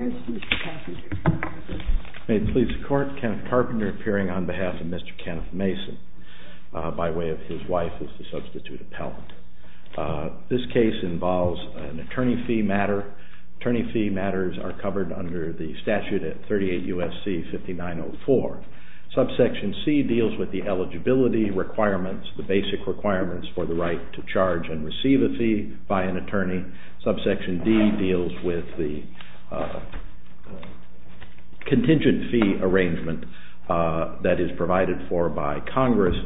Mr. Carpenter. May it please the Court, Kenneth Carpenter appearing on behalf of Mr. Kenneth Mason by way of his wife as the substitute appellant. This case involves an attorney fee matter. Attorney fee matters are covered under the statute at 38 U.S.C. 5904. Subsection C deals with the eligibility requirements, the basic requirements for the right to charge and receive a fee by an attorney. Subsection D deals with the contingent fee arrangement that is provided for by Congress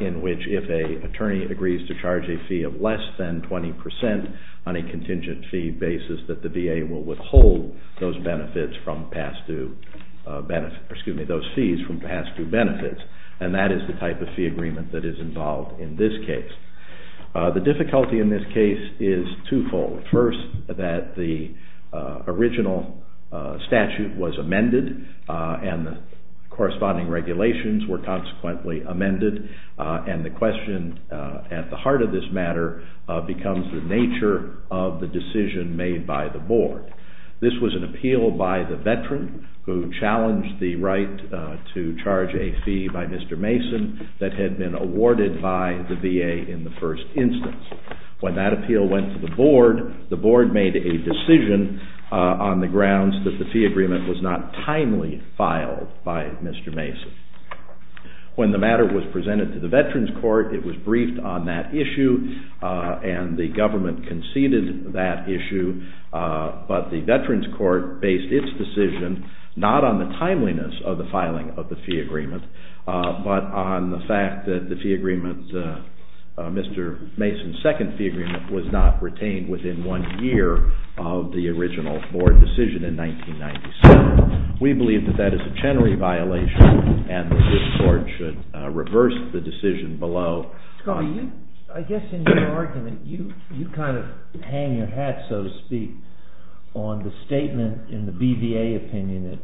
in which if an attorney agrees to charge a fee of less than 20% on a contingent fee basis that the VA will withhold those fees from past due benefits. And that is the type of fee agreement that is involved in this case. The difficulty in this case is twofold. First, that the original statute was amended and the corresponding regulations were consequently amended and the question at the heart of this matter becomes the nature of the decision made by the board. This was an appeal by the veteran who challenged the right to charge a fee by Mr. Mason that had been awarded by the VA in the first instance. When that appeal went to the board, the board made a decision on the grounds that the fee agreement was not timely filed by Mr. Mason. When the matter was presented to the veterans court, it was briefed on that issue and the government conceded that issue, but the veterans court based its decision not on the timeliness of the filing of the fee agreement, but on the fact that the fee agreement, Mr. Mason's second fee agreement was not retained within one year of the original board decision in 1997. We believe that that is a generally violation and this board should reverse the decision below. Scott, I guess in your argument, you kind of hang your hat, so to speak, on the statement in the BVA opinion that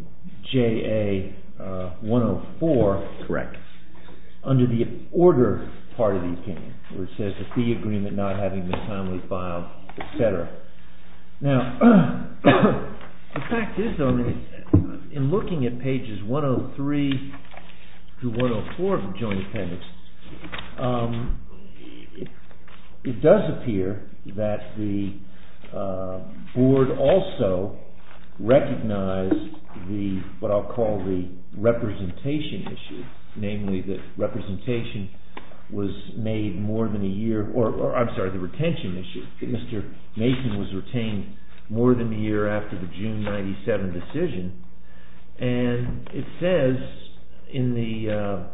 JA 104. Correct. Under the order part of the opinion, where it says the fee agreement not having been timely filed, etc. Now, the fact is, in looking at pages 103 to 104 of the joint appendix, it does appear that the board also recognized what I'll call the representation issue, namely that representation was made more than a year, or I'm sorry, the retention issue. Mr. Mason was retained more than a year after the June 97 decision, and it says in the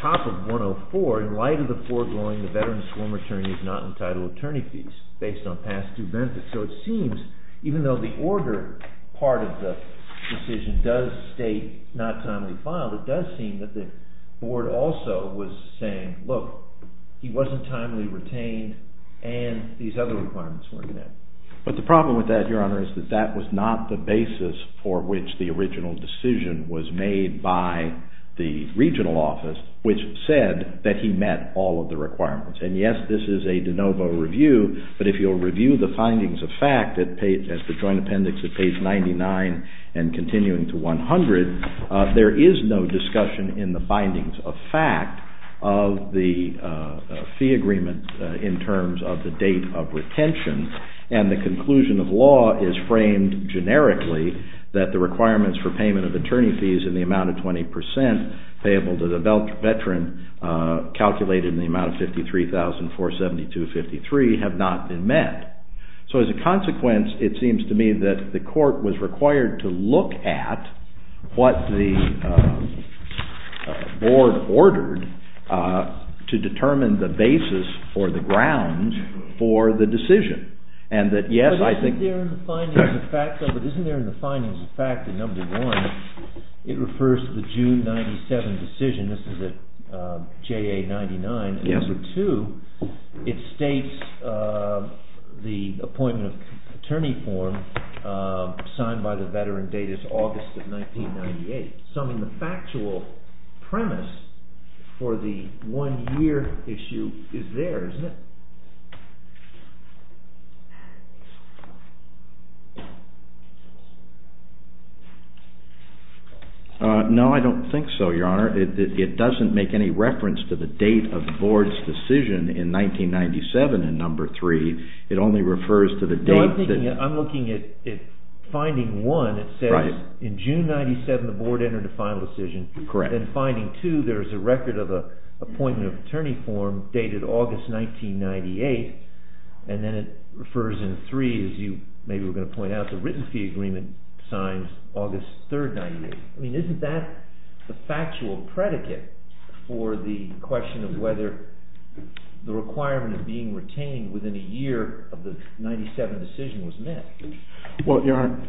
top of 104, in light of the foregoing, the veterans form attorney is not entitled to attorney fees based on past due benefits. So it seems, even though the order part of the decision does state not timely filed, it does seem that the board also was saying, look, he wasn't timely retained and these other requirements weren't met. Now, as a fact, as the joint appendix at page 99 and continuing to 100, there is no discussion in the bindings of fact of the fee agreement in terms of the date of retention, and the conclusion of law is framed generically that the requirements for payment of attorney fees in the amount of 20% payable to the veteran calculated in the amount of 53,472.53 have not been met. So as a consequence, it seems to me that the court was required to look at what the board ordered to determine the basis or the ground for the decision. But isn't there in the findings of fact that number one, it refers to the June 97 decision, this is at JA 99, and number two, it states the appointment of attorney form signed by the veteran date is August of 1998. Some of the factual premise for the one-year issue is there, isn't it? No, I don't think so, Your Honor. It doesn't make any reference to the date of the board's decision in 1997 in number three. It only refers to the date. I'm looking at finding one, it says in June 97 the board entered a final decision, then finding two, there is a record of an appointment of attorney form dated August 1998, and then it refers in three, as you maybe were going to point out, the written fee agreement signed August 3, 1998. I mean, isn't that the factual predicate for the question of whether the requirement of being retained within a year of the 97 decision was met? Well, Your Honor,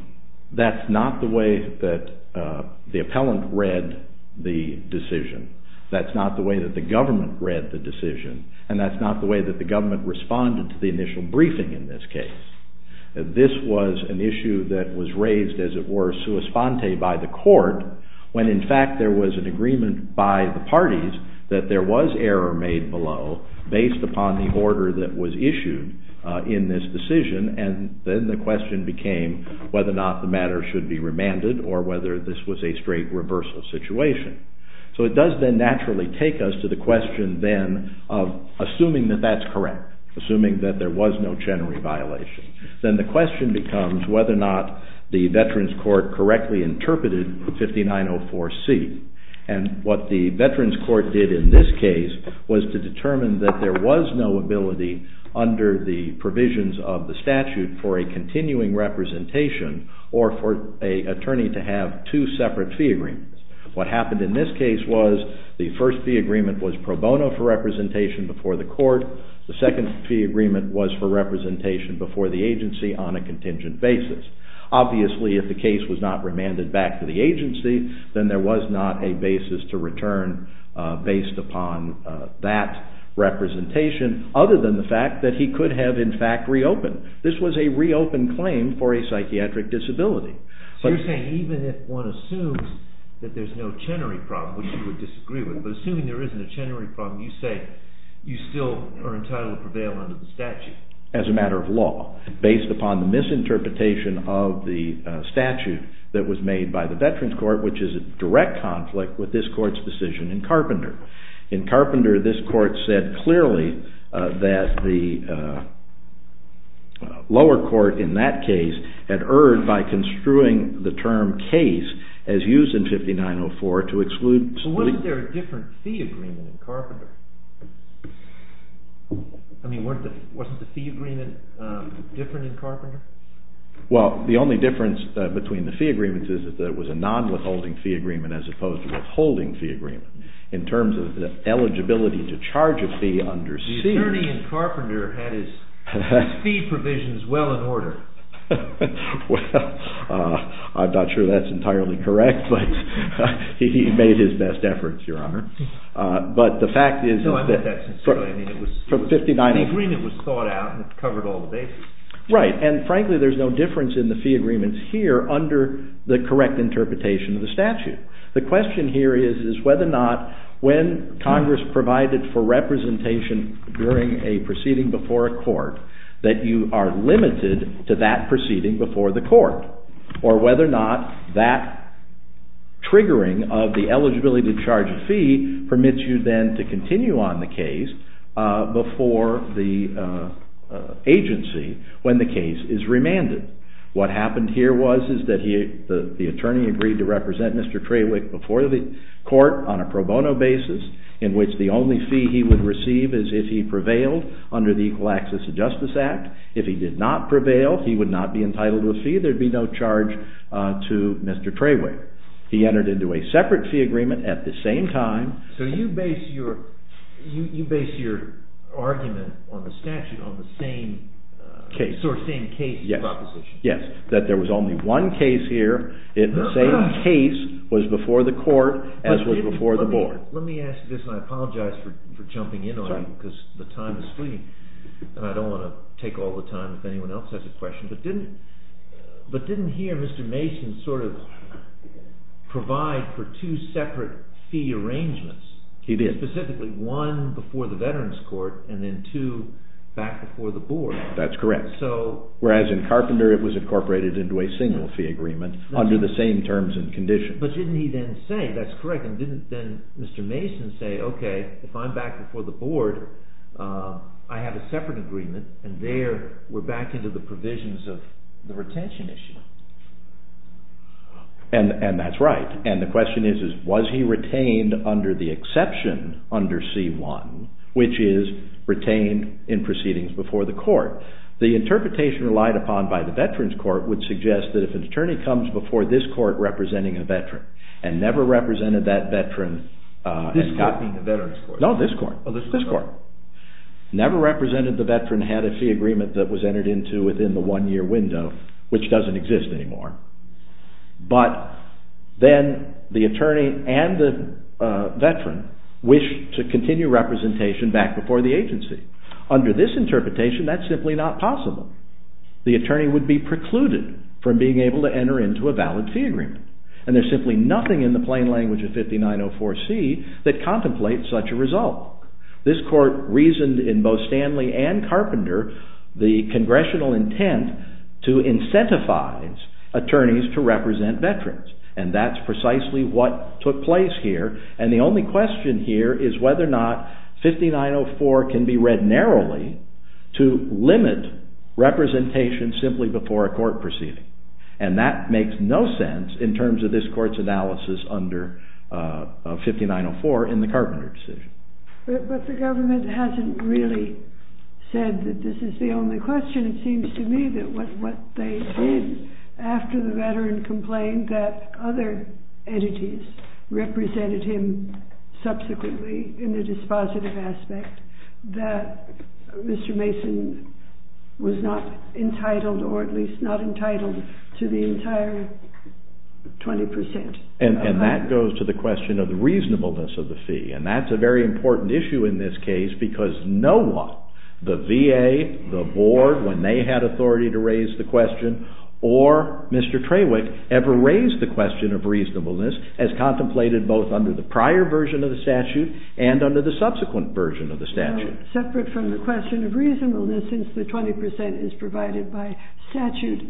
that's not the way that the appellant read the decision. That's not the way that the government read the decision, and that's not the way that the government responded to the initial briefing in this case. This was an issue that was raised, as it were, sua sponte by the court, when in fact there was an agreement by the parties that there was error made below based upon the order that was issued in this decision, and then the question became whether or not the matter should be remanded or whether this was a straight reversal situation. So it does then naturally take us to the question then of assuming that that's correct, assuming that there was no general violation. Then the question becomes whether or not the veterans court correctly interpreted 5904C, and what the veterans court did in this case was to determine that there was no ability under the provisions of the statute for a continuing representation or for an attorney to have two separate fee agreements. What happened in this case was the first fee agreement was pro bono for representation before the court. The second fee agreement was for representation before the agency on a contingent basis. Obviously, if the case was not remanded back to the agency, then there was not a basis to return based upon that representation, other than the fact that he could have, in fact, reopened. This was a reopened claim for a psychiatric disability. So you're saying even if one assumes that there's no Chenery problem, which you would disagree with, but assuming there isn't a Chenery problem, you say you still are entitled to prevail under the statute? As a matter of law, based upon the misinterpretation of the statute that was made by the veterans court, which is a direct conflict with this court's decision in Carpenter. In Carpenter, this court said clearly that the lower court in that case had erred by construing the term case as used in 5904 to exclude... Wasn't there a different fee agreement in Carpenter? I mean, wasn't the fee agreement different in Carpenter? Well, the only difference between the fee agreements is that there was a non-withholding fee agreement as opposed to withholding fee agreement. In terms of the eligibility to charge a fee under C... The attorney in Carpenter had his fee provisions well in order. Well, I'm not sure that's entirely correct, but he made his best efforts, Your Honor. But the fact is that... No, I meant that sincerely. I mean, it was... From 59... The agreement was thought out and it covered all the bases. Right. And frankly, there's no difference in the fee agreements here under the correct interpretation of the statute. The question here is whether or not when Congress provided for representation during a proceeding before a court that you are limited to that proceeding before the court, or whether or not that triggering of the eligibility to charge a fee permits you then to continue on the case before the agency when the case is remanded. What happened here was that the attorney agreed to represent Mr. Trawick before the court on a pro bono basis in which the only fee he would receive is if he prevailed under the Equal Access to Justice Act. If he did not prevail, he would not be entitled to a fee. There would be no charge to Mr. Trawick. He entered into a separate fee agreement at the same time. So you base your argument on the statute on the same sort of same case proposition. Yes. That there was only one case here and the same case was before the court as was before the board. Let me ask you this and I apologize for jumping in on it because the time is fleeting and I don't want to take all the time if anyone else has a question. But didn't here Mr. Mason sort of provide for two separate fee arrangements? He did. Specifically one before the veterans court and then two back before the board. That's correct. Whereas in Carpenter it was incorporated into a single fee agreement under the same terms and conditions. But didn't he then say, that's correct, and didn't then Mr. Mason say, okay, if I'm back before the board, I have a separate agreement and there we're back into the provisions of the retention issue? And that's right. And the question is, was he retained under the exception under C-1, which is retained in proceedings before the court? The interpretation relied upon by the veterans court would suggest that if an attorney comes before this court representing a veteran and never represented that veteran… This court being the veterans court? No, this court. Oh, this court. This court. Never represented the veteran had a fee agreement that was entered into within the one year window, which doesn't exist anymore. But then the attorney and the veteran wish to continue representation back before the agency. Under this interpretation, that's simply not possible. The attorney would be precluded from being able to enter into a valid fee agreement. And there's simply nothing in the plain language of 5904C that contemplates such a result. This court reasoned in both Stanley and Carpenter the congressional intent to incentivize attorneys to represent veterans. And that's precisely what took place here. And the only question here is whether or not 5904 can be read narrowly to limit representation simply before a court proceeding. And that makes no sense in terms of this court's analysis under 5904 in the Carpenter decision. But the government hasn't really said that this is the only question. And it seems to me that what they did after the veteran complained that other entities represented him subsequently in the dispositive aspect, that Mr. Mason was not entitled or at least not entitled to the entire 20%. And that goes to the question of the reasonableness of the fee. And that's a very important issue in this case because no one, the VA, the board, when they had authority to raise the question, or Mr. Trawick, ever raised the question of reasonableness as contemplated both under the prior version of the statute and under the subsequent version of the statute. But separate from the question of reasonableness, since the 20% is provided by statute,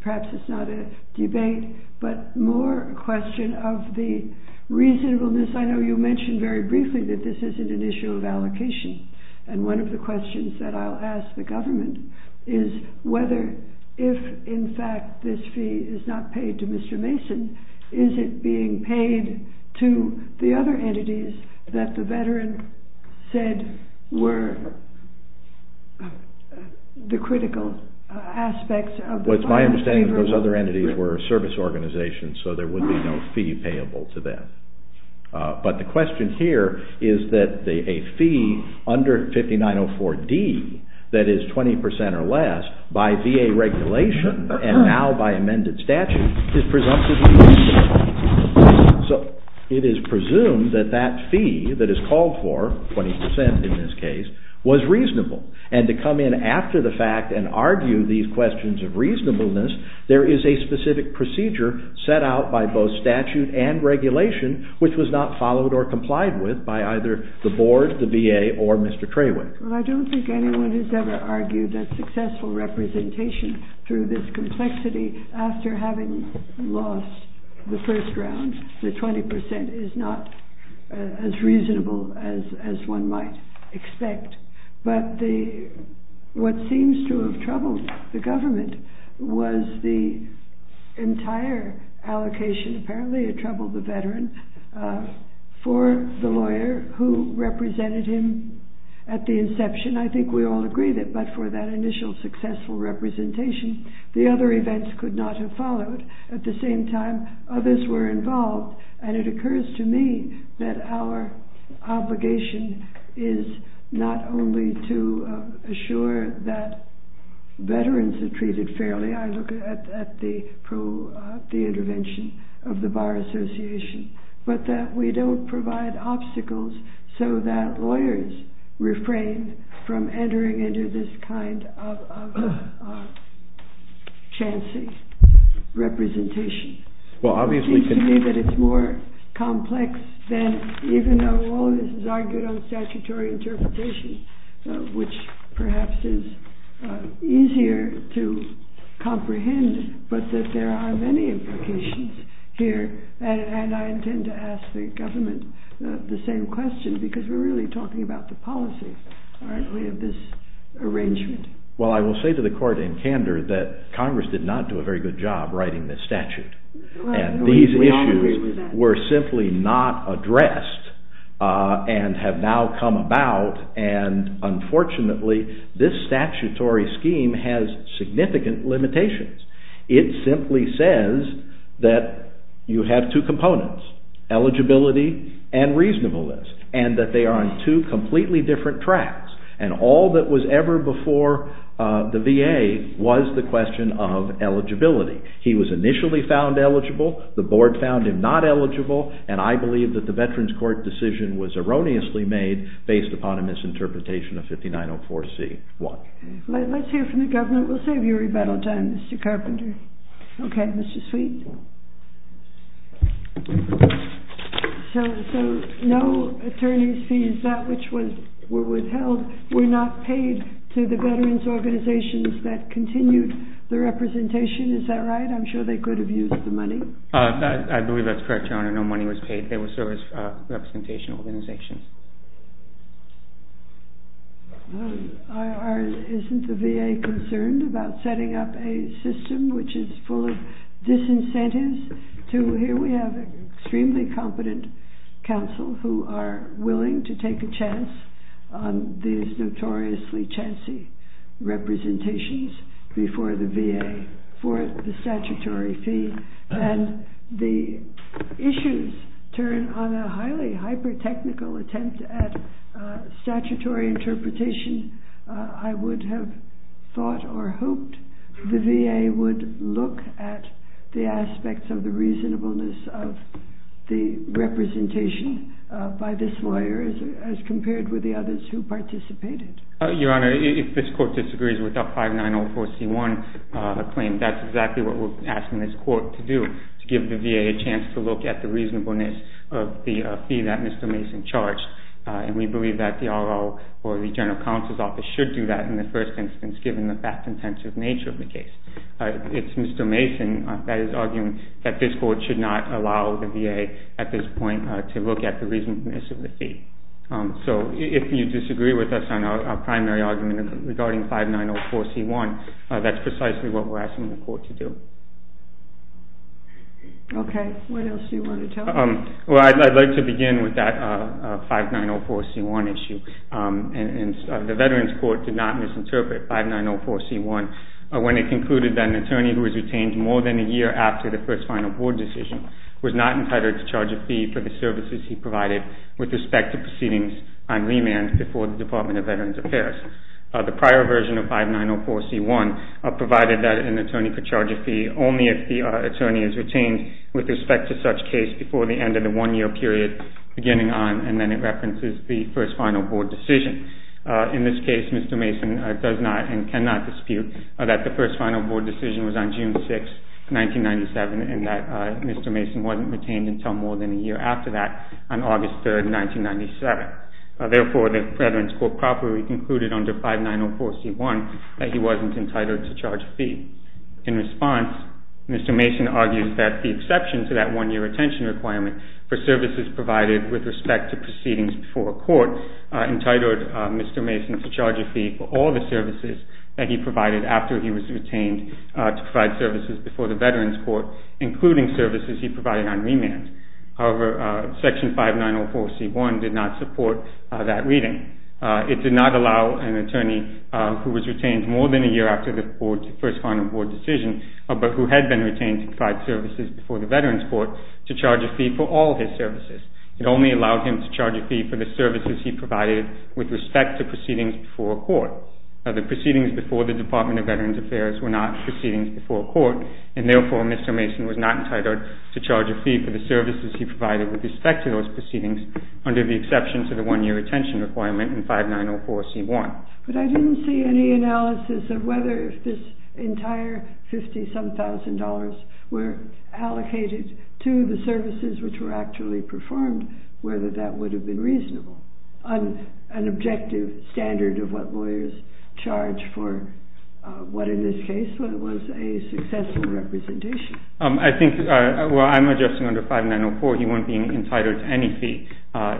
perhaps it's not a debate, but more a question of the reasonableness. I know you mentioned very briefly that this isn't an issue of allocation. And one of the questions that I'll ask the government is whether if, in fact, this fee is not paid to Mr. Mason, is it being paid to the other entities that the veteran said were the critical aspects of the… Well, it's my understanding that those other entities were a service organization, so there would be no fee payable to them. But the question here is that a fee under 5904D that is 20% or less by VA regulation and now by amended statute is presumptively reasonable. So it is presumed that that fee that is called for, 20% in this case, was reasonable. And to come in after the fact and argue these questions of reasonableness, there is a specific procedure set out by both statute and regulation which was not followed or complied with by either the board, the VA, or Mr. Trawick. Well, I don't think anyone has ever argued that successful representation through this complexity after having lost the first round, the 20% is not as reasonable as one might expect. But what seems to have troubled the government was the entire allocation, apparently it troubled the veteran, for the lawyer who represented him at the inception. I think we all agree that but for that initial successful representation, the other events could not have followed. At the same time, others were involved and it occurs to me that our obligation is not only to assure that veterans are treated fairly. I look at the intervention of the Bar Association, but that we don't provide obstacles so that lawyers refrain from entering into this kind of chancy representation. It seems to me that it's more complex than even though all this is argued on statutory interpretation, which perhaps is easier to comprehend, but that there are many implications here. And I intend to ask the government the same question because we're really talking about the policy, aren't we, of this arrangement. Well, I will say to the court in candor that Congress did not do a very good job writing this statute. And these issues were simply not addressed and have now come about and unfortunately this statutory scheme has significant limitations. It simply says that you have two components, eligibility and reasonableness, and that they are on two completely different tracks. And all that was ever before the VA was the question of eligibility. He was initially found eligible, the board found him not eligible, and I believe that the Veterans Court decision was erroneously made based upon a misinterpretation of 5904C1. Let's hear from the government. We'll save you rebuttal time, Mr. Carpenter. Okay, Mr. Sweet. So no attorney's fees, that which were withheld, were not paid to the veterans organizations that continued the representation, is that right? I'm sure they could have used the money. I believe that's correct, Your Honor. No money was paid. They were service representation organizations. Isn't the VA concerned about setting up a system which is full of disincentives? Here we have extremely competent counsel who are willing to take a chance on these notoriously chancy representations before the VA for the statutory fee. And the issues turn on a highly hyper-technical attempt at statutory interpretation. I would have thought or hoped the VA would look at the aspects of the reasonableness of the representation by this lawyer as compared with the others who participated. Your Honor, if this Court disagrees with the 5904C1 claim, that's exactly what we're asking this Court to do, to give the VA a chance to look at the reasonableness of the fee that Mr. Mason charged. And we believe that the RO or the General Counsel's Office should do that in the first instance, given the fact-intensive nature of the case. It's Mr. Mason that is arguing that this Court should not allow the VA at this point to look at the reasonableness of the fee. So if you disagree with us on our primary argument regarding 5904C1, that's precisely what we're asking the Court to do. Okay. What else do you want to tell us? Well, I'd like to begin with that 5904C1 issue. And the Veterans Court did not misinterpret 5904C1 when it concluded that an attorney who is retained more than a year after the first final board decision was not entitled to charge a fee for the services he provided with respect to proceedings on remand before the Department of Veterans Affairs. The prior version of 5904C1 provided that an attorney could charge a fee only if the attorney is retained with respect to such case before the end of the one-year period beginning on, and then it references the first final board decision. In this case, Mr. Mason does not and cannot dispute that the first final board decision was on June 6, 1997, and that Mr. Mason wasn't retained until more than a year after that on August 3, 1997. Therefore, the Veterans Court properly concluded under 5904C1 that he wasn't entitled to charge a fee. In response, Mr. Mason argues that the exception to that one-year retention requirement for services provided with respect to proceedings before a court entitled Mr. Mason to charge a fee for all the services that he provided after he was retained to provide services before the Veterans Court, including services he provided on remand. However, Section 5904C1 did not support that reading. It did not allow an attorney who was retained more than a year after the first final board decision, but who had been retained to provide services before the Veterans Court, to charge a fee for all his services. It only allowed him to charge a fee for the services he provided with respect to proceedings before a court. The proceedings before the Department of Veterans Affairs were not proceedings before a court, and therefore Mr. Mason was not entitled to charge a fee for the services he provided with respect to those proceedings under the exception to the one-year retention requirement in 5904C1. But I didn't see any analysis of whether this entire $50-some-thousand were allocated to the services which were actually performed, whether that would have been reasonable. An objective standard of what lawyers charge for what in this case was a successful representation. I think, well I'm adjusting under 5904, he won't be entitled to any fee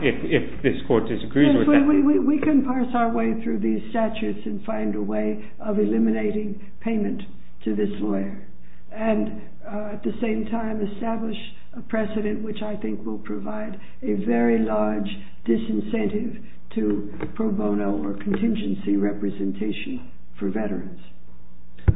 if this court disagrees with that. We can parse our way through these statutes and find a way of eliminating payment to this lawyer, and at the same time establish a precedent which I think will provide a very large disincentive to pro bono or contingency representation for veterans.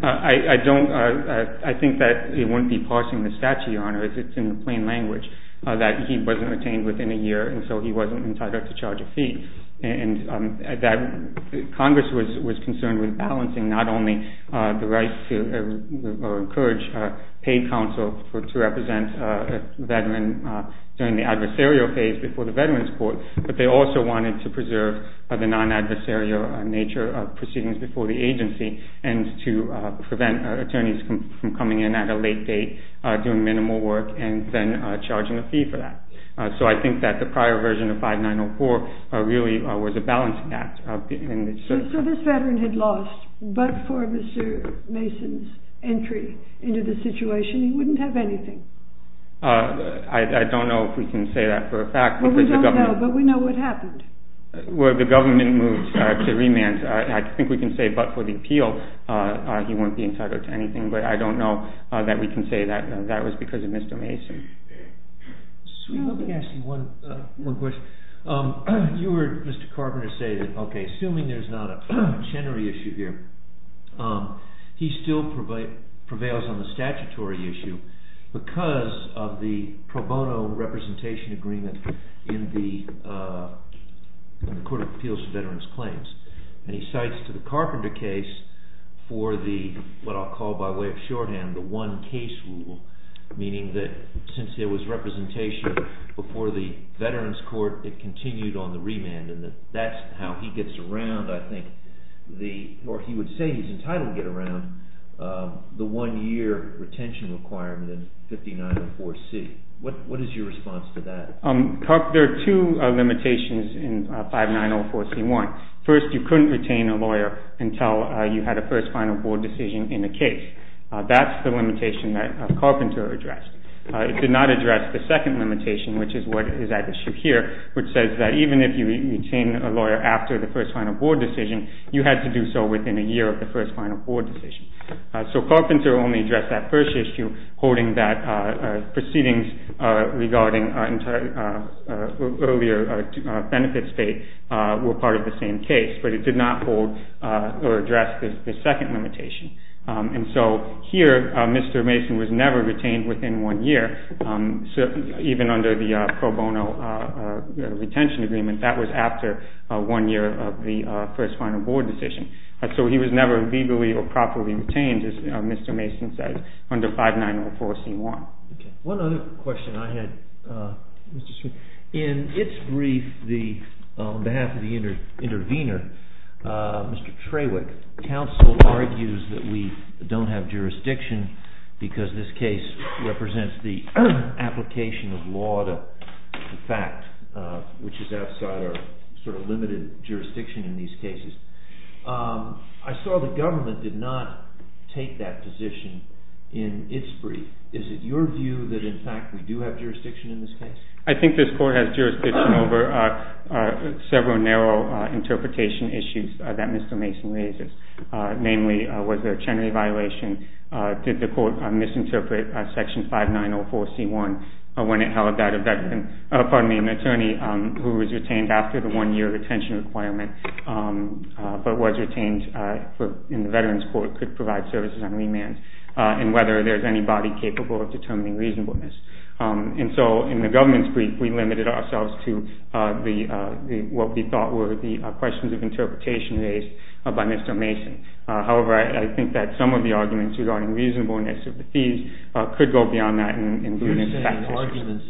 I don't, I think that it wouldn't be parsing the statute, Your Honor, because it's in plain language that he wasn't retained within a year, and so he wasn't entitled to charge a fee. And that Congress was concerned with balancing not only the right to encourage paid counsel to represent a veteran during the adversarial phase before the Veterans Court, but they also wanted to preserve the non-adversarial nature of proceedings before the agency and to prevent attorneys from coming in at a late date, doing minimal work, and then charging a fee for that. So I think that the prior version of 5904 really was a balancing act. So this veteran had lost, but for Mr. Mason's entry into the situation, he wouldn't have anything? I don't know if we can say that for a fact. Well, we don't know, but we know what happened. Well, the government moved to remand. I think we can say, but for the appeal, he won't be entitled to anything, but I don't know that we can say that that was because of Mr. Mason. Let me ask you one question. You heard Mr. Carpenter say that, okay, assuming there's not a machinery issue here, he still prevails on the statutory issue because of the pro bono representation agreement in the Court of Appeals for Veterans Claims, and he cites to the Carpenter case for the, what I'll call by way of shorthand, the one case rule, meaning that since there was representation before the Veterans Court, it continued on the remand, and that's how he gets around, I think, or he would say he's entitled to get around the one-year retention requirement in 5904C. What is your response to that? There are two limitations in 5904C1. First, you couldn't retain a lawyer until you had a first final board decision in a case. That's the limitation that Carpenter addressed. It did not address the second limitation, which is what is at issue here, which says that even if you retain a lawyer after the first final board decision, you had to do so within a year of the first final board decision. So Carpenter only addressed that first issue, holding that proceedings regarding earlier benefits date were part of the same case, but it did not hold or address the second limitation. And so here, Mr. Mason was never retained within one year, even under the pro bono retention agreement. That was after one year of the first final board decision. So he was never legally or properly retained, as Mr. Mason says, under 5904C1. One other question I had. In its brief, on behalf of the intervener, Mr. Trawick, counsel argues that we don't have jurisdiction because this case represents the application of law to fact, which is outside our sort of limited jurisdiction in these cases. I saw the government did not take that position in its brief. Is it your view that, in fact, we do have jurisdiction in this case? I think this court has jurisdiction over several narrow interpretation issues that Mr. Mason raises. Namely, was there a Chenery violation? Did the court misinterpret Section 5904C1 when it held that an attorney who was retained after the one-year retention requirement but was retained in the Veterans Court could provide services on remand? And whether there's anybody capable of determining reasonableness. And so, in the government's brief, we limited ourselves to what we thought were the questions of interpretation raised by Mr. Mason. However, I think that some of the arguments regarding reasonableness of the fees could go beyond that. You're saying arguments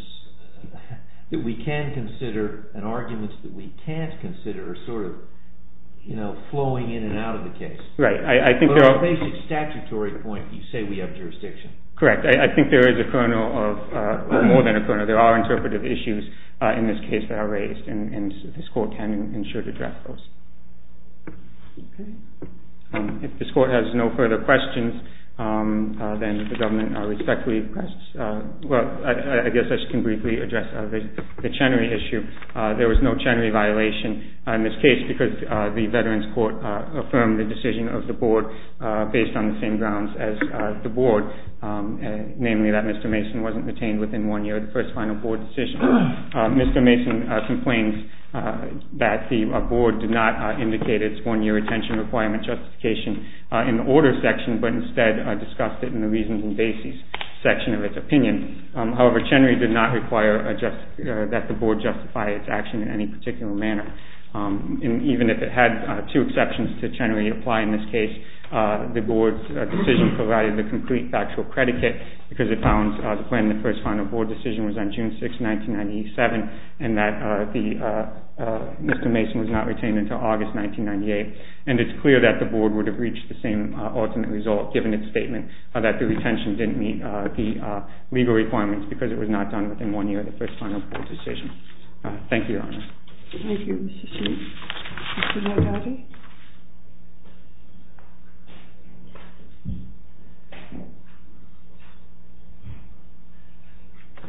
that we can consider and arguments that we can't consider are sort of flowing in and out of the case. Right. But on a basic statutory point, you say we have jurisdiction. Correct. I think there is a kernel of – well, more than a kernel. There are interpretive issues in this case that are raised, and this court can and should address those. Okay. If this court has no further questions, then the government respectfully requests – well, I guess I can briefly address the Chenery issue. There was no Chenery violation in this case because the Veterans Court affirmed the decision of the board based on the same grounds as the board, namely that Mr. Mason wasn't retained within one year of the first final board decision. Mr. Mason complains that the board did not indicate its one-year retention requirement justification in the order section but instead discussed it in the reasons and basis section of its opinion. However, Chenery did not require that the board justify its action in any particular manner. Even if it had two exceptions to Chenery apply in this case, the board's decision provided the complete factual predicate because it found the plan in the first final board decision was on June 6, 1997, and that Mr. Mason was not retained until August 1998. And it's clear that the board would have reached the same ultimate result, given its statement that the retention didn't meet the legal requirements because it was not done within one year of the first final board decision. Thank you, Your Honor. Thank you, Mr. Sheehan. Mr. Nardotti?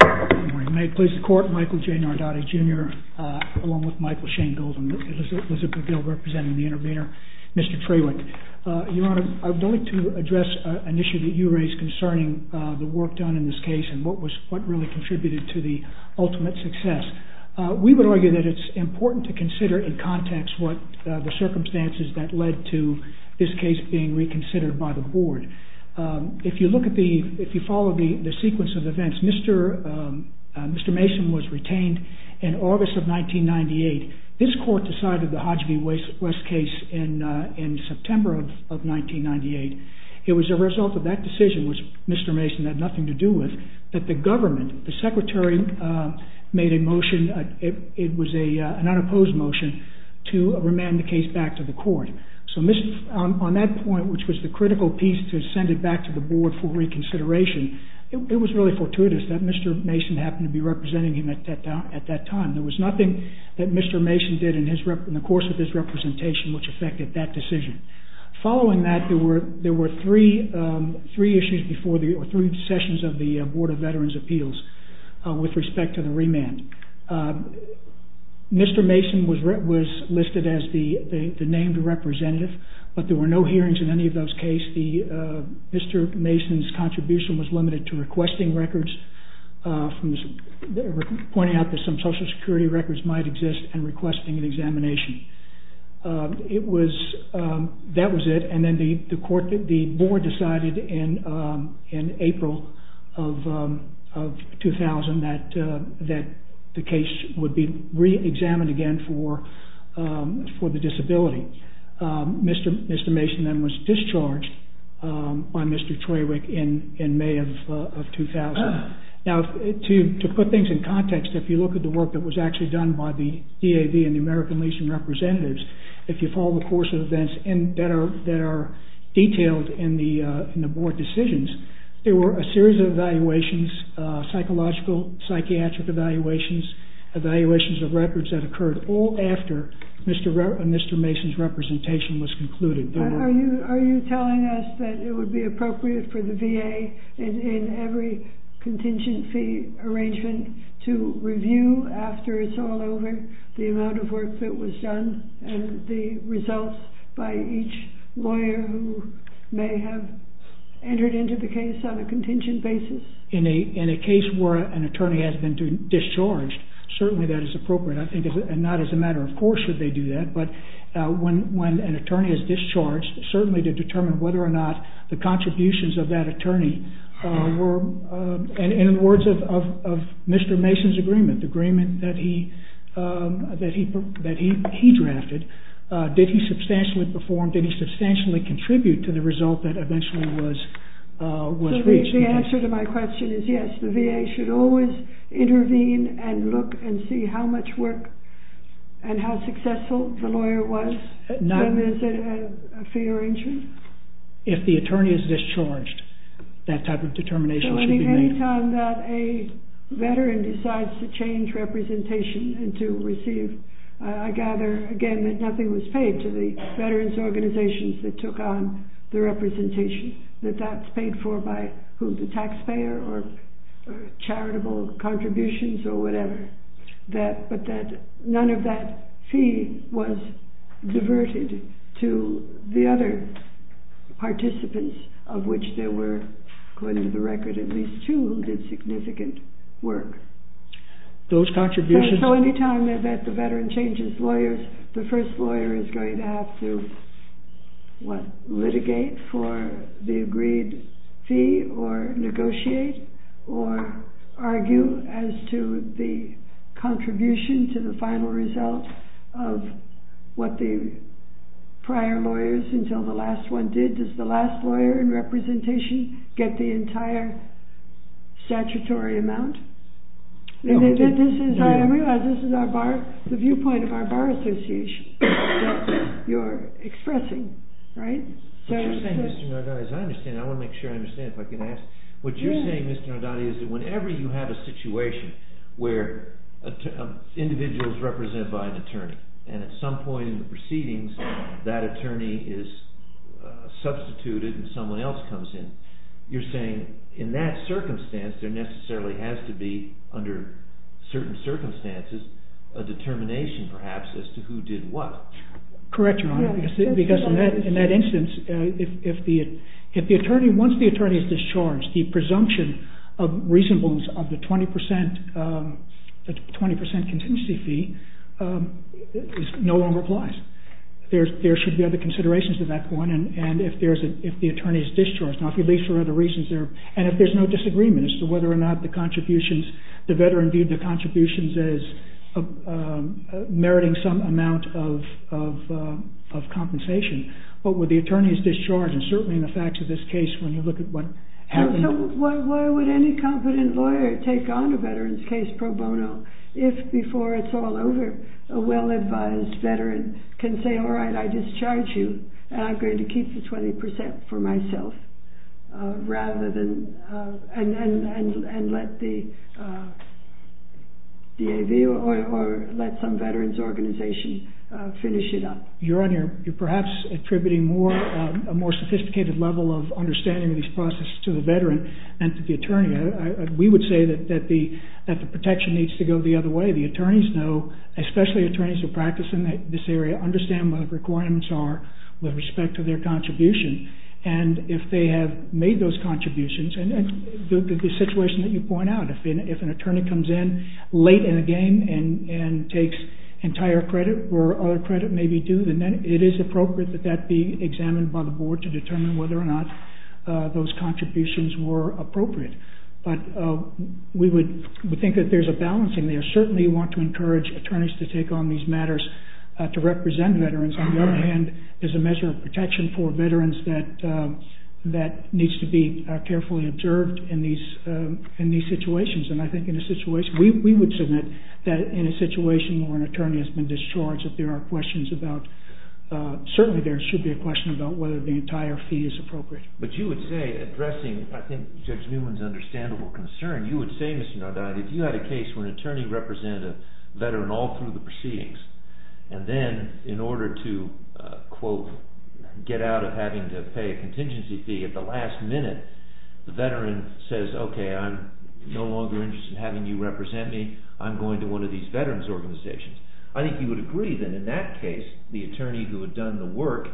Good morning. May it please the Court, Michael J. Nardotti, Jr., along with Michael Shane-Golden, Elizabeth McGill representing the intervener, Mr. Trewick. Your Honor, I would like to address an issue that you raised concerning the work done in this case and what really contributed to the ultimate success. We would argue that it's important to consider in context what the circumstances that led to this case being reconsidered by the board. If you follow the sequence of events, Mr. Mason was retained in August of 1998. This court decided the Hodge v. West case in September of 1998. It was a result of that decision, which Mr. Mason had nothing to do with, that the government, the secretary, made a motion. It was an unopposed motion to remand the case back to the court. On that point, which was the critical piece to send it back to the board for reconsideration, it was really fortuitous that Mr. Mason happened to be representing him at that time. There was nothing that Mr. Mason did in the course of his representation which affected that decision. Following that, there were three sessions of the Board of Veterans' Appeals with respect to the remand. Mr. Mason was listed as the named representative, but there were no hearings in any of those cases. Mr. Mason's contribution was limited to requesting records, pointing out that some social security records might exist, and requesting an examination. That was it, and then the board decided in April of 2000 that the case would be re-examined again for the disability. Mr. Mason then was discharged by Mr. Troiwick in May of 2000. To put things in context, if you look at the work that was actually done by the DAV and the American Legion representatives, if you follow the course of events that are detailed in the board decisions, there were a series of evaluations, psychological, psychiatric evaluations, evaluations of records that occurred all after Mr. Mason's representation was concluded. Are you telling us that it would be appropriate for the VA in every contingency arrangement to review after it's all over the amount of work that was done and the results by each lawyer who may have entered into the case on a contingent basis? In a case where an attorney has been discharged, certainly that is appropriate. Not as a matter of course should they do that, but when an attorney is discharged, certainly to determine whether or not the contributions of that attorney were, in the words of Mr. Mason's agreement, the agreement that he drafted, did he substantially perform, did he substantially contribute to the result that eventually was reached? The answer to my question is yes. The VA should always intervene and look and see how much work and how successful the lawyer was. Is it a fee arrangement? If the attorney is discharged, that type of determination should be made. Any time that a veteran decides to change representation and to receive, I gather again that nothing was paid to the veterans organizations that took on the representation, that that's paid for by the taxpayer or charitable contributions or whatever, but that none of that fee was diverted to the other participants, of which there were, according to the record, at least two who did significant work. So any time that the veteran changes lawyers, the first lawyer is going to have to litigate for the agreed fee or negotiate or argue as to the contribution to the final result of what the prior lawyers until the last one did. Does the last lawyer in representation get the entire statutory amount? I realize this is the viewpoint of our Bar Association, what you're expressing, right? What you're saying, Mr. Nardani, is that whenever you have a situation where an individual is represented by an attorney, and at some point in the proceedings that attorney is substituted and someone else comes in, you're saying in that circumstance there necessarily has to be, under certain circumstances, a determination perhaps as to who did what. Correct, Your Honor, because in that instance, once the attorney is discharged, the presumption of reasonableness of the 20% contingency fee is no longer applies. There should be other considerations at that point, and if the attorney is discharged, now if he leaves for other reasons, and if there's no disagreement as to whether or not the contributions, the veteran viewed the contributions as meriting some amount of compensation, what would the attorney's discharge, and certainly in the facts of this case when you look at what happened... So why would any competent lawyer take on a veteran's case pro bono, if before it's all over, a well-advised veteran can say, all right, I discharge you, and I'm going to keep the 20% for myself, and let the DAV or let some veteran's organization finish it up. Your Honor, you're perhaps attributing a more sophisticated level of understanding of these processes to the veteran and to the attorney. We would say that the protection needs to go the other way. The attorneys know, especially attorneys who practice in this area, understand what the requirements are with respect to their contribution, and if they have made those contributions, and the situation that you point out, if an attorney comes in late in the game and takes entire credit where other credit may be due, then it is appropriate that that be examined by the board to determine whether or not those contributions were appropriate. But we think that there's a balance in there. Certainly we want to encourage attorneys to take on these matters to represent veterans. On the other hand, there's a measure of protection for veterans that needs to be carefully observed in these situations. And I think in a situation, we would submit that in a situation where an attorney has been discharged, that there are questions about, certainly there should be a question about whether the entire fee is appropriate. But you would say, addressing I think Judge Newman's understandable concern, you would say, Mr. Nardani, if you had a case where an attorney represented a veteran all through the proceedings, and then in order to, quote, get out of having to pay a contingency fee at the last minute, the veteran says, okay, I'm no longer interested in having you represent me. I'm going to one of these veterans' organizations. I think you would agree that in that case, the attorney who had done the work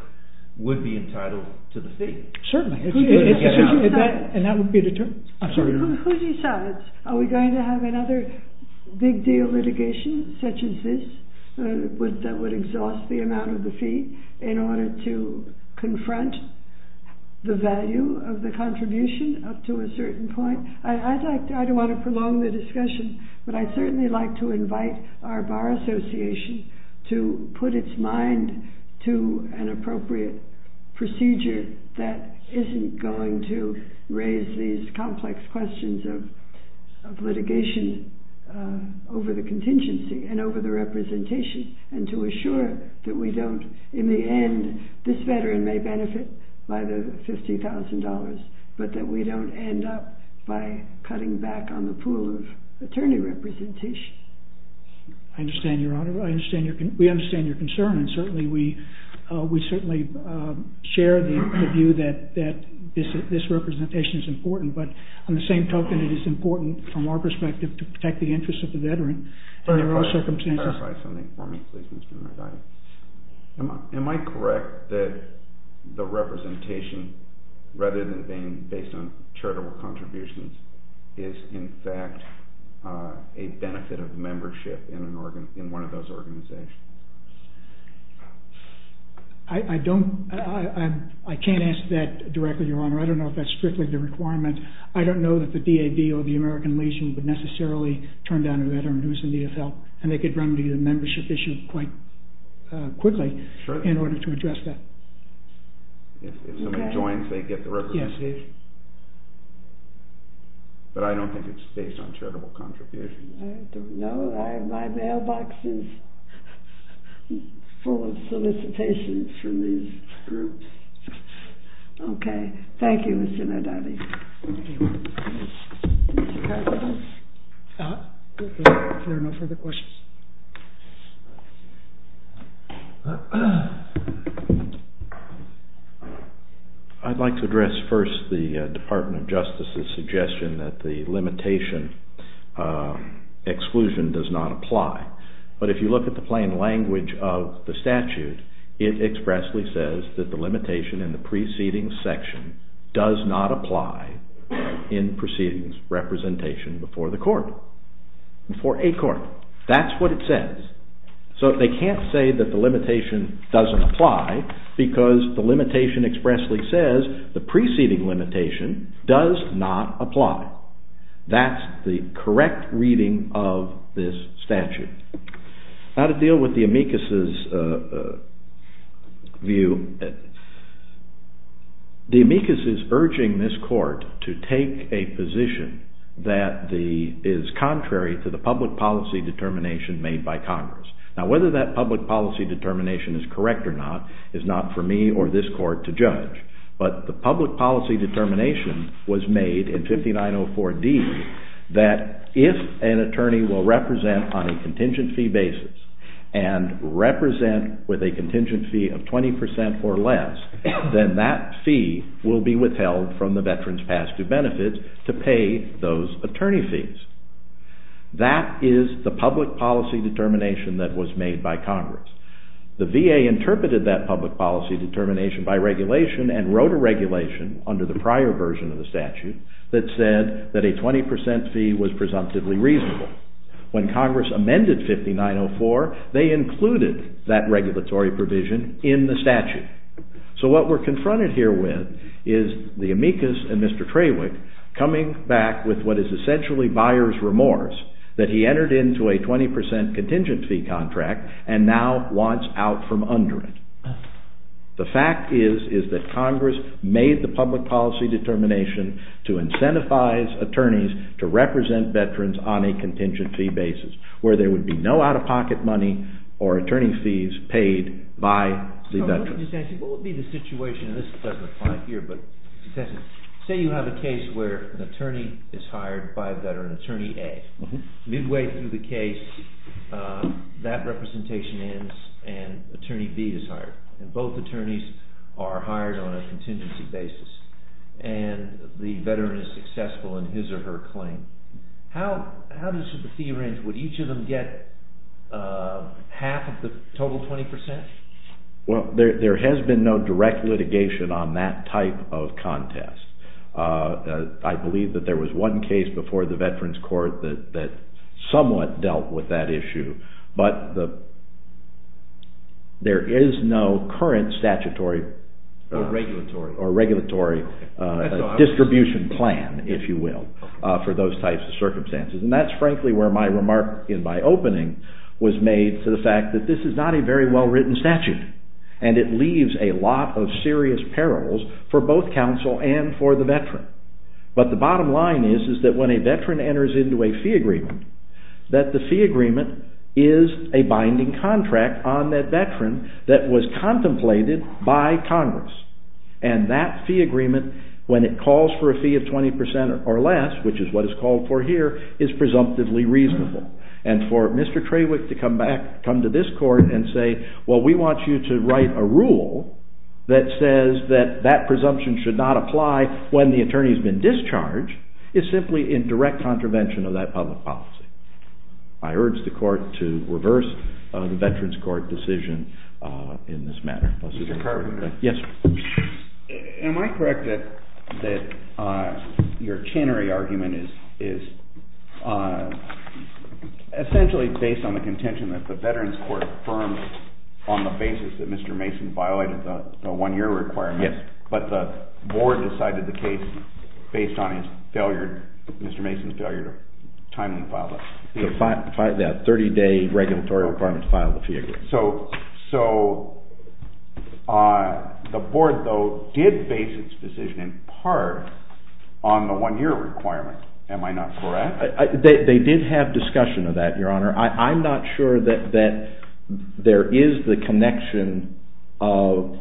would be entitled to the fee. Certainly. And that would be the attorney. Who decides? Are we going to have another big deal litigation such as this that would exhaust the amount of the fee in order to confront the value of the contribution up to a certain point? I don't want to prolong the discussion, but I'd certainly like to invite our Bar Association to put its mind to an appropriate procedure that isn't going to raise these complex questions of litigation over the contingency and over the representation and to assure that we don't, in the end, this veteran may benefit by the $50,000, but that we don't end up by cutting back on the pool of attorney representation. I understand, Your Honor. We understand your concern, and certainly we share the view that this representation is important, but on the same token, it is important from our perspective to protect the interests of the veteran. Can you clarify something for me, please, Mr. McIntyre? Am I correct that the representation, rather than being based on charitable contributions, is, in fact, a benefit of membership in one of those organizations? I can't ask that directly, Your Honor. I don't know if that's strictly the requirement. I don't know that the DAD or the American Legion would necessarily turn down a veteran who is in need of help, and they could run the membership issue quite quickly in order to address that. If somebody joins, they get the representation? But I don't think it's based on charitable contributions. I don't know. My mailbox is full of solicitations from these groups. Okay. Thank you, Ms. Zinardotti. Thank you. Mr. Carson? If there are no further questions. I'd like to address first the Department of Justice's suggestion that the limitation exclusion does not apply. But if you look at the plain language of the statute, it expressly says that the limitation in the preceding section does not apply in proceedings representation before the court, before a court. That's what it says. So they can't say that the limitation doesn't apply, because the limitation expressly says the preceding limitation does not apply. That's the correct reading of this statute. Now to deal with the amicus's view. The amicus is urging this court to take a position that is contrary to the public policy determination made by Congress. Now whether that public policy determination is correct or not is not for me or this court to judge. But the public policy determination was made in 5904D that if an attorney will represent on a contingent fee basis and represent with a contingent fee of 20% or less, then that fee will be withheld from the veteran's past due benefits to pay those attorney fees. That is the public policy determination that was made by Congress. The VA interpreted that public policy determination by regulation and wrote a regulation under the prior version of the statute that said that a 20% fee was presumptively reasonable. When Congress amended 5904, they included that regulatory provision in the statute. So what we're confronted here with is the amicus and Mr. Trawick coming back with what is essentially buyer's remorse that he entered into a 20% contingent fee contract and now wants out from under it. The fact is that Congress made the public policy determination to incentivize attorneys to represent veterans on a contingent fee basis where there would be no out of pocket money or attorney fees paid by the veterans. I'm just asking what would be the situation, and this doesn't apply here, but say you have a case where an attorney is hired by a veteran, attorney A. Midway through the case, that representation ends and attorney B is hired, and both attorneys are hired on a contingency basis, and the veteran is successful in his or her claim. How does the fee range? Would each of them get half of the total 20%? Well, there has been no direct litigation on that type of contest. I believe that there was one case before the Veterans Court that somewhat dealt with that issue, but there is no current statutory or regulatory distribution plan, if you will, for those types of circumstances. And that's frankly where my remark in my opening was made to the fact that this is not a very well-written statute, and it leaves a lot of serious perils for both counsel and for the veteran. But the bottom line is that when a veteran enters into a fee agreement, that the fee agreement is a binding contract on that veteran that was contemplated by Congress. And that fee agreement, when it calls for a fee of 20% or less, which is what is called for here, is presumptively reasonable. And for Mr. Trawick to come to this court and say, well, we want you to write a rule that says that that presumption should not apply when the attorney has been discharged, is simply in direct contravention of that public policy. I urge the court to reverse the Veterans Court decision in this matter. Am I correct that your tannery argument is essentially based on the contention that the Veterans Court affirmed on the basis that Mr. Mason violated the one-year requirement, but the board decided the case based on his failure, Mr. Mason's failure to timely file that? The 30-day regulatory requirement to file the fee agreement. So the board, though, did base its decision in part on the one-year requirement. Am I not correct? They did have discussion of that, Your Honor. I'm not sure that there is the connection of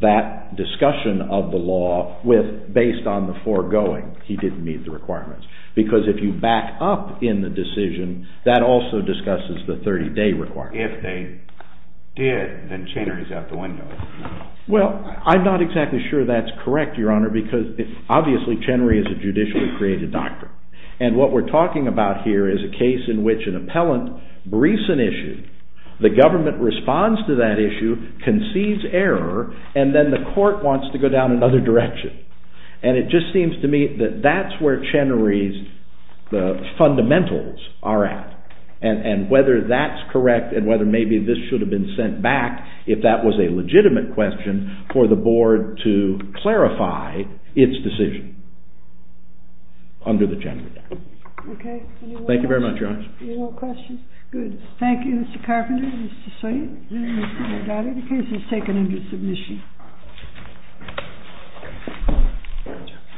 that discussion of the law based on the foregoing. He didn't meet the requirements. Because if you back up in the decision, that also discusses the 30-day requirement. If they did, then Chenery's out the window. Well, I'm not exactly sure that's correct, Your Honor, because obviously Chenery is a judicially created doctrine. And what we're talking about here is a case in which an appellant briefs an issue, the government responds to that issue, concedes error, and then the court wants to go down another direction. And it just seems to me that that's where Chenery's fundamentals are at. And whether that's correct and whether maybe this should have been sent back, if that was a legitimate question, for the board to clarify its decision under the Chenery doctrine. Okay. Any more questions? Good. Thank you, Mr. Carpenter and Mr. Sawyer. I got it. The case is taken into submission.